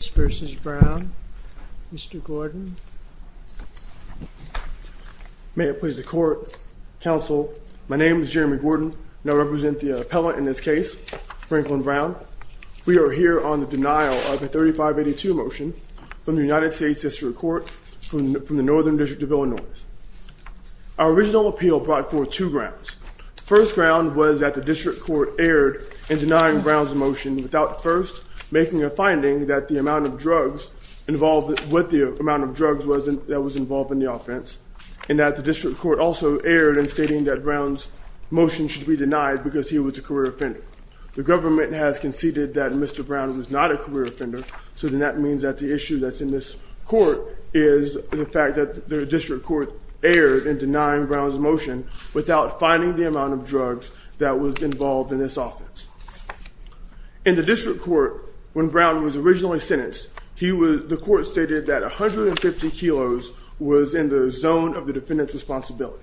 v. Brown, Mr. Gordon. May it please the court, counsel, my name is Jeremy Gordon and I represent the appellant in this case, Franklin Brown. We are here on the denial of a 3582 motion from the United States District Court from the Northern District of Illinois. Our original appeal brought forth two grounds. First ground was that the district court erred in denying Brown's motion without first making a finding that the amount of drugs involved with the amount of drugs that was involved in the offense and that the district court also erred in stating that Brown's motion should be denied because he was a career offender. The government has conceded that Mr. Brown was not a career offender so then that means that the issue that's in this court is the fact that the district court erred in denying Brown's motion without finding the amount of drugs that was involved in this offense. In the district court, when Brown was originally sentenced, the court stated that a hundred and fifty kilos was in the zone of the defendant's responsibility.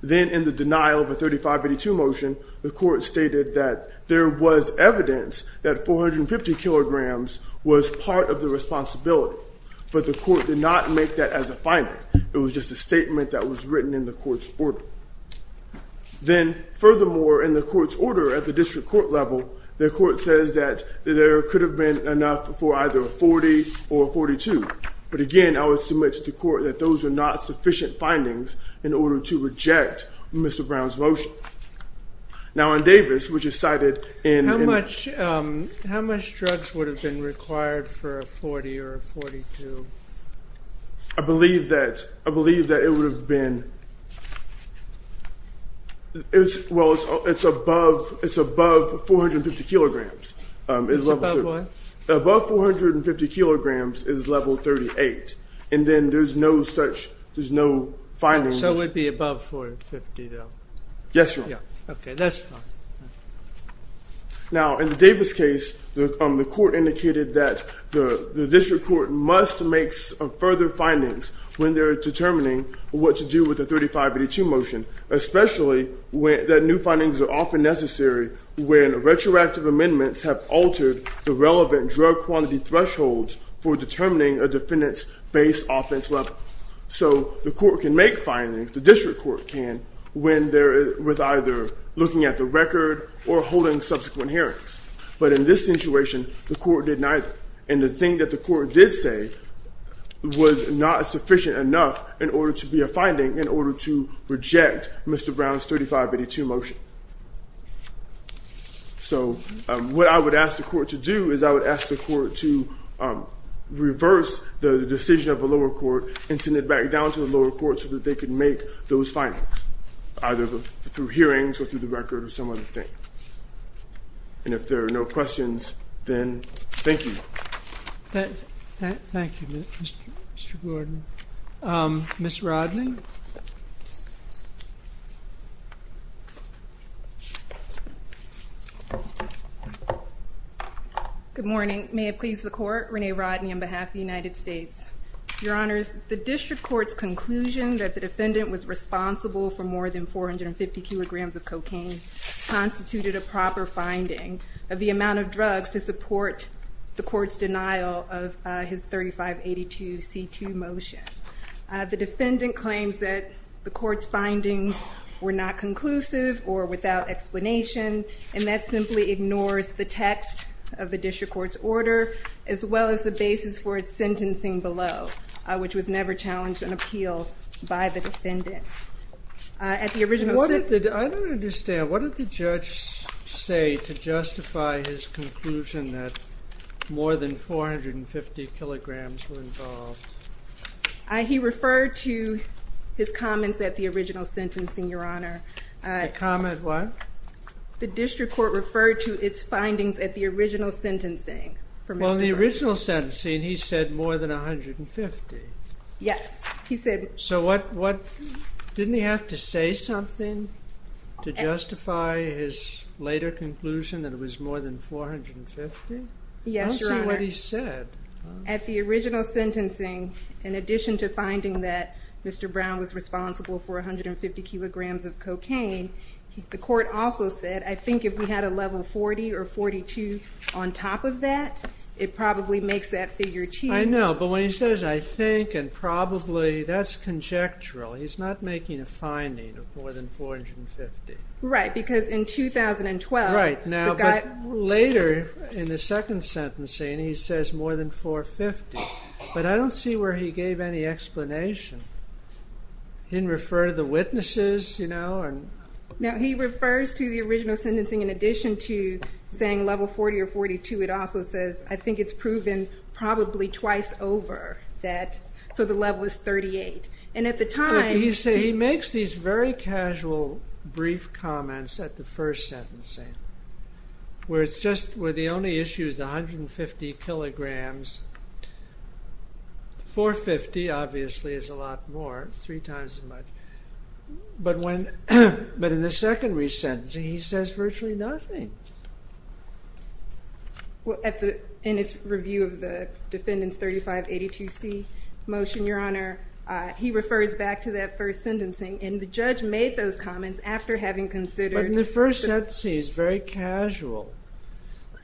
Then in the denial of a 3582 motion, the court stated that there was evidence that 450 kilograms was part of the responsibility but the court did not make that as a finding. It was just a statement that was written in the court's order. Then furthermore in the court's order at the district court level, the court says that there could have been enough for either a 40 or 42 but again I would submit to the court that those are not sufficient findings in order to reject Mr. Brown's motion. Now in Davis, which is cited in... How much drugs would have been required for a 40 or a 42? I believe that it would have been... Well, it's above 450 kilograms. Above 450 kilograms is level 38 and then there's no such, there's no findings. So it would be above 450? Yes, Your Honor. Now in the Davis case, the court indicated that the court also makes further findings when they're determining what to do with the 3582 motion, especially when the new findings are often necessary when retroactive amendments have altered the relevant drug quantity thresholds for determining a defendant's base offense level. So the court can make findings, the district court can, when they're with either looking at the record or holding subsequent hearings. But in this situation, the court did neither and the thing that the court did say was not sufficient enough in order to be a finding in order to reject Mr. Brown's 3582 motion. So what I would ask the court to do is I would ask the court to reverse the decision of the lower court and send it back down to the lower court so that they can make those findings, either through hearings or through the record or some other thing. And if there are no questions, then thank you. Thank you, Mr. Gordon. Ms. Rodney? Good morning. May it please the court, Renee Rodney on behalf of the United States. Your Honors, the district court's conclusion that the defendant was responsible for more than 450 kilograms of cocaine constituted a proper finding of the amount of drugs to support the court's denial of his 3582 C2 motion. The defendant claims that the court's findings were not conclusive or without explanation and that simply ignores the text of the district court's order as well as the basis for its sentencing below, which was never challenged an appeal by the defendant. At the original... I don't understand, what did the judge say to justify his conclusion that more than 450 kilograms were involved? He referred to his comments at the original sentencing, Your Honor. A comment what? The district court referred to its findings at the original sentencing. Well, the original sentencing he said more than 150. Yes, he said... So what, didn't he have to say something to justify his later conclusion that it was more than 450? Yes, Your Honor. I don't see what he said. At the original sentencing, in addition to finding that Mr. Brown was responsible for 150 kilograms of cocaine, the court also said I think if we had a level 40 or 42 on top of that, it probably makes that figure too. I know, but when he says I think and probably, that's conjectural. He's not making a finding of more than 450. Right, because in 2012... Right, but later in the second sentencing he says more than 450, but I don't see where he gave any explanation. He didn't refer to the witnesses, you know? No, he refers to the original sentencing in addition to saying level 40 or 42. It also says I think it's proven probably twice over that, so the level is 38, and at the time... He makes these very casual brief comments at the first sentencing, where it's just, where the only issue is 150 kilograms. 450 obviously is a lot more, three times as much, but when, but in the second re-sentencing he says virtually nothing. Well, in his review of the defendant's 3582C motion, your honor, he refers back to that first sentencing, and the judge made those comments after having considered... But in the first sentencing, he's very casual.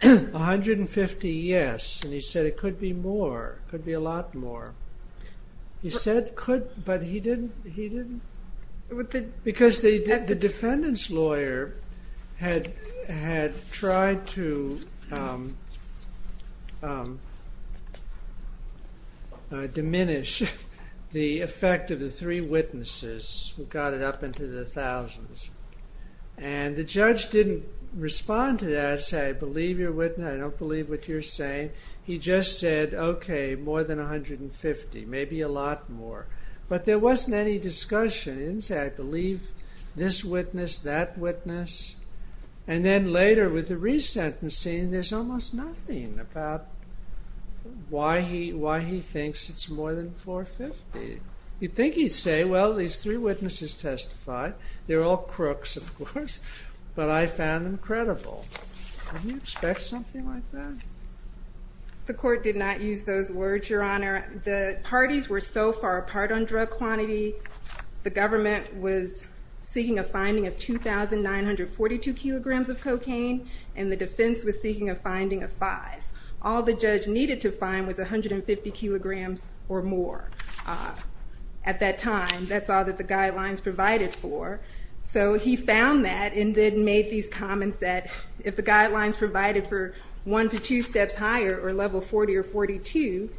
150, yes, and he said it could be more, could be a lot more. He said could, but he didn't, he didn't, because the defendant's lawyer had tried to diminish the effect of the three witnesses, who got it up into the thousands, and the judge didn't respond to that, say I believe your witness, I don't believe what you're saying. He just said, okay, more than 150, maybe a lot more, but there wasn't any discussion. He didn't say, I believe this witness, that witness, and then later, with the re-sentencing, there's almost nothing about why he, why he thinks it's more than 450. You'd think he'd say, well, these three witnesses testified, they're all crooks, of course, but I found them credible. Wouldn't you expect something like that? The court did not use those words, your honor. The parties were so far apart on drug quantity, the government was seeking a finding of 2,942 kilograms of cocaine, and the defense was seeking a finding of five. All the judge needed to find was 150 kilograms or more. At that time, that's all that the guidelines provided for, so he found that, and then made these comments that if the guidelines provided for one to two steps higher, or level 40 or 42,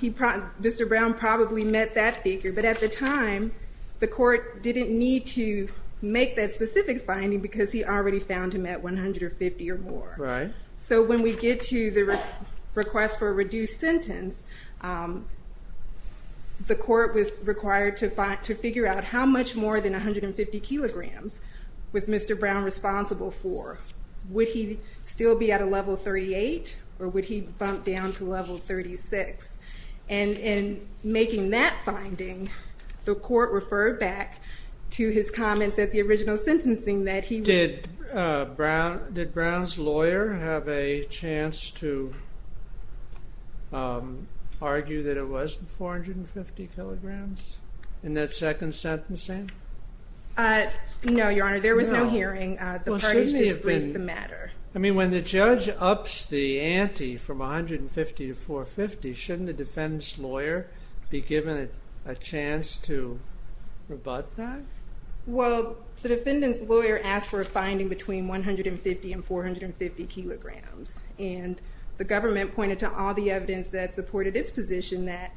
he, Mr. Brown probably met that figure, but at the time, the court didn't need to make that specific finding, because he already found him at 150 or more. Right. So when we get to the request for a reduced sentence, the court was required to figure out how much more than 150 kilograms was Mr. Brown responsible for. Would he still be at a level 38, or would he bump down to level 36? And in making that finding, the court referred back to his comments at the original sentencing that he... Did Brown's lawyer have a chance to argue that it was 450 kilograms in that second sentencing? No, your honor, there was no hearing. The parties briefed the matter. I mean, when the judge ups the ante from 150 to 450, shouldn't the defendant's lawyer be given a chance to rebut that? Well, the defendant's lawyer asked for a finding between 150 and 450 kilograms, and the government pointed to all the evidence that supported its position that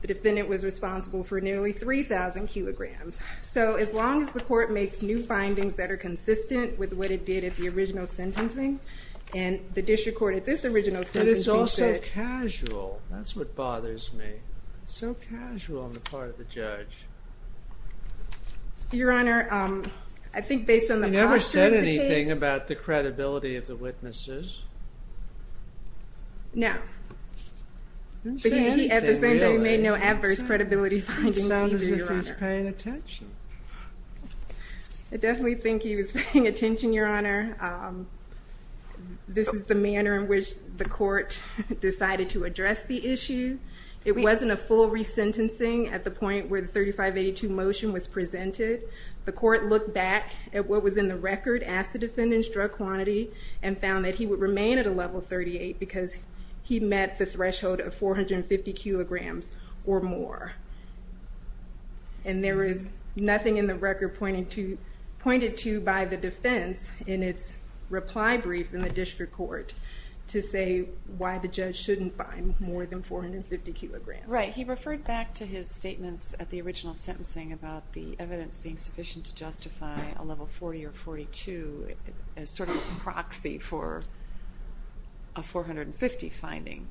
the defendant was responsible for nearly 3,000 kilograms. So as long as the court makes new findings that are consistent with what it did at the original sentencing... But it's all so casual. That's what bothers me. It's so casual on the part of the judge. Your honor, I think based on the posture of the case... He never said anything about the credibility of the witnesses. No. He didn't say anything, really. At the same time, he made no adverse credibility findings, either, your honor. He sounded as if he was paying attention. I definitely think he was paying attention, your honor. This is the manner in which the court decided to address the issue. It wasn't a full resentencing at the point where the 3582 motion was presented. The court looked back at what was in the record, asked the defendant's drug quantity, and found that he would remain at a level 38 because he met the threshold of 450 kilograms or more. And there is nothing in the record pointed to by the defense in its reply brief in the district court to say why the judge shouldn't find more than 450 kilograms. Right. He referred back to his statements at the original sentencing about the evidence being sufficient to justify a level 40 or 42 as sort of a proxy for a 450 finding.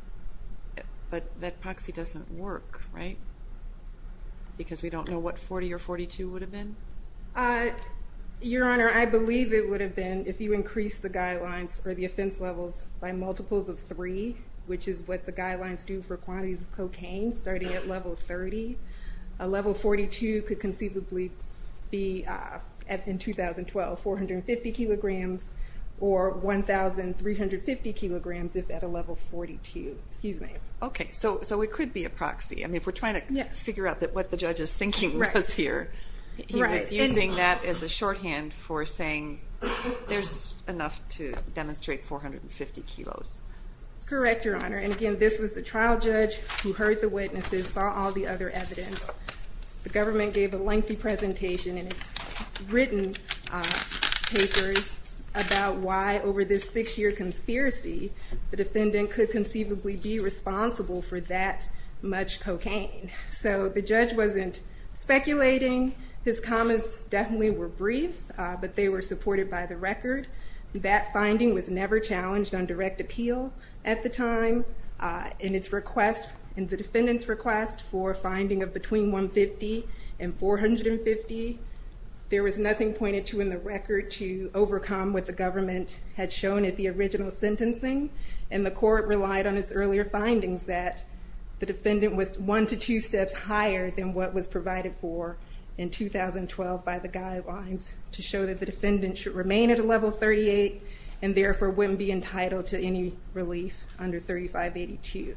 But that proxy doesn't work, right? Because we don't know what 40 or 42 would have been? Your honor, I believe it would have been if you increase the guidelines or the offense levels by multiples of three, which is what the guidelines do for quantities of cocaine, starting at level 30. A level 42 could conceivably be, in 2012, 450 kilograms or 1,350 kilograms if at a level 42. Excuse me. Okay, so it could be a proxy. And if we're trying to figure out what the judge is thinking was here, he was using that as a shorthand for saying there's enough to demonstrate 450 kilos. Correct, your honor. And again, this was the trial judge who heard the witnesses, saw all the other evidence. The government gave a lengthy presentation and written papers about why, over this six-year conspiracy, the defendant could conceivably be responsible for that much cocaine. So the judge wasn't speculating. His commas definitely were brief, but they were supported by the record. That finding was never challenged on direct appeal at the time. In its request, in the defendant's request for a finding of between 150 and 450, there was nothing pointed to in the record to overcome what the government had shown at the original sentencing. And the findings that the defendant was one to two steps higher than what was provided for in 2012 by the guidelines to show that the defendant should remain at a level 38 and therefore wouldn't be entitled to any relief under 3582.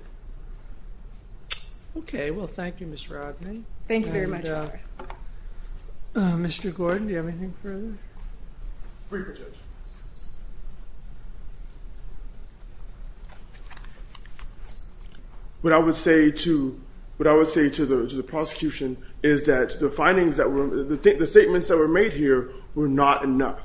Okay, well, thank you, Ms. Rodney. Thank you very much. Mr. What I would say to the prosecution is that the findings that were, the statements that were made here were not enough.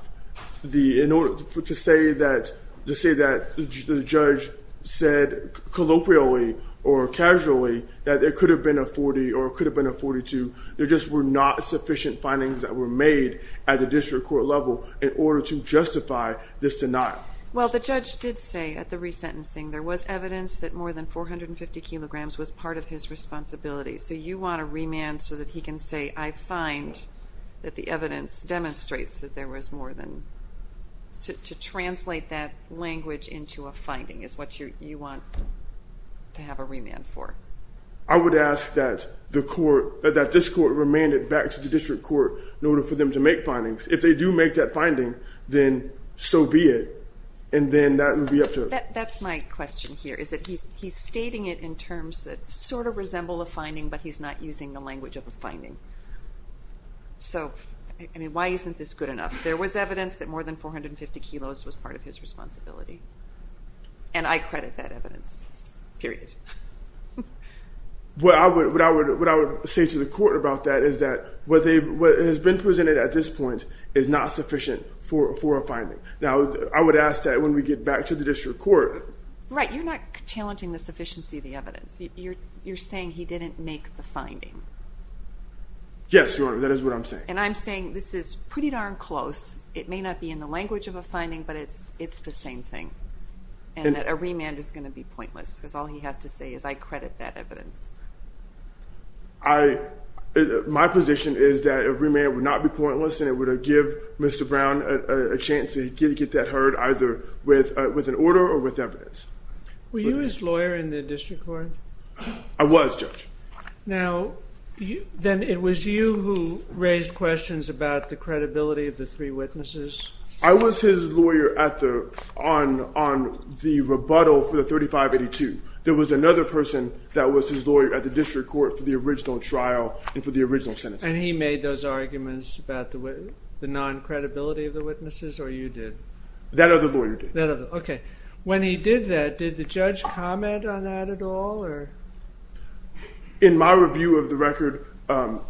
In order to say that the judge said colloquially or casually that there could have been a 40 or could have been a 42, there just were not sufficient findings that were made at the district court level in order to justify this denial. Well, the judge did say at the resentencing there was evidence that more than 450 kilograms was part of his responsibility. So you want to remand so that he can say, I find that the evidence demonstrates that there was more than, to translate that language into a finding is what you want to have a remand for. I would ask that the court, that this court remand it back to the district court in order for them to make findings. If they do make that finding, then so be it. And then that would be up to them. That's my question here, is that he's stating it in terms that sort of resemble a finding, but he's not using the language of a finding. So, I mean, why isn't this good enough? There was evidence that more than 450 kilos was part of his responsibility. And I credit that evidence, period. What I would say to the court about that is that what has been presented at this point is not sufficient for a finding. Now, I would ask that when we get back to the district court. Right, you're not challenging the sufficiency of the evidence. You're, you're saying he didn't make the finding. Yes, Your Honor, that is what I'm saying. And I'm saying this is pretty darn close. It may not be in the language of a finding, but it's, it's the same thing. And that a remand is going to be pointless because all he has to say is I credit that evidence. I, my position is that a remand would not be pointless and it would give Mr. Brown a chance to get that heard either with, uh, with an order or with evidence. Were you his lawyer in the district court? I was, Judge. Now, then it was you who raised questions about the credibility of the three witnesses? I was his lawyer at the, on, on the rebuttal for the 3582. There was another person that was his lawyer at the district court for the original trial and for the original sentence. And he made those arguments about the, the non-credibility of the witnesses or you did? That other lawyer did. Okay. When he did that, did the judge comment on that at all or? In my review of the record, um,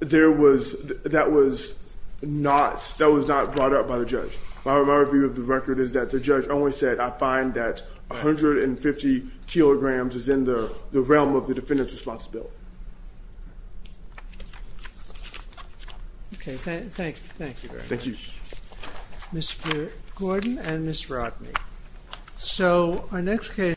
there was, that was not, that was not brought up by the judge. Okay. Thank you. Thank you very much. Thank you. Mr. Gordon and Ms. Rodney. So our next case.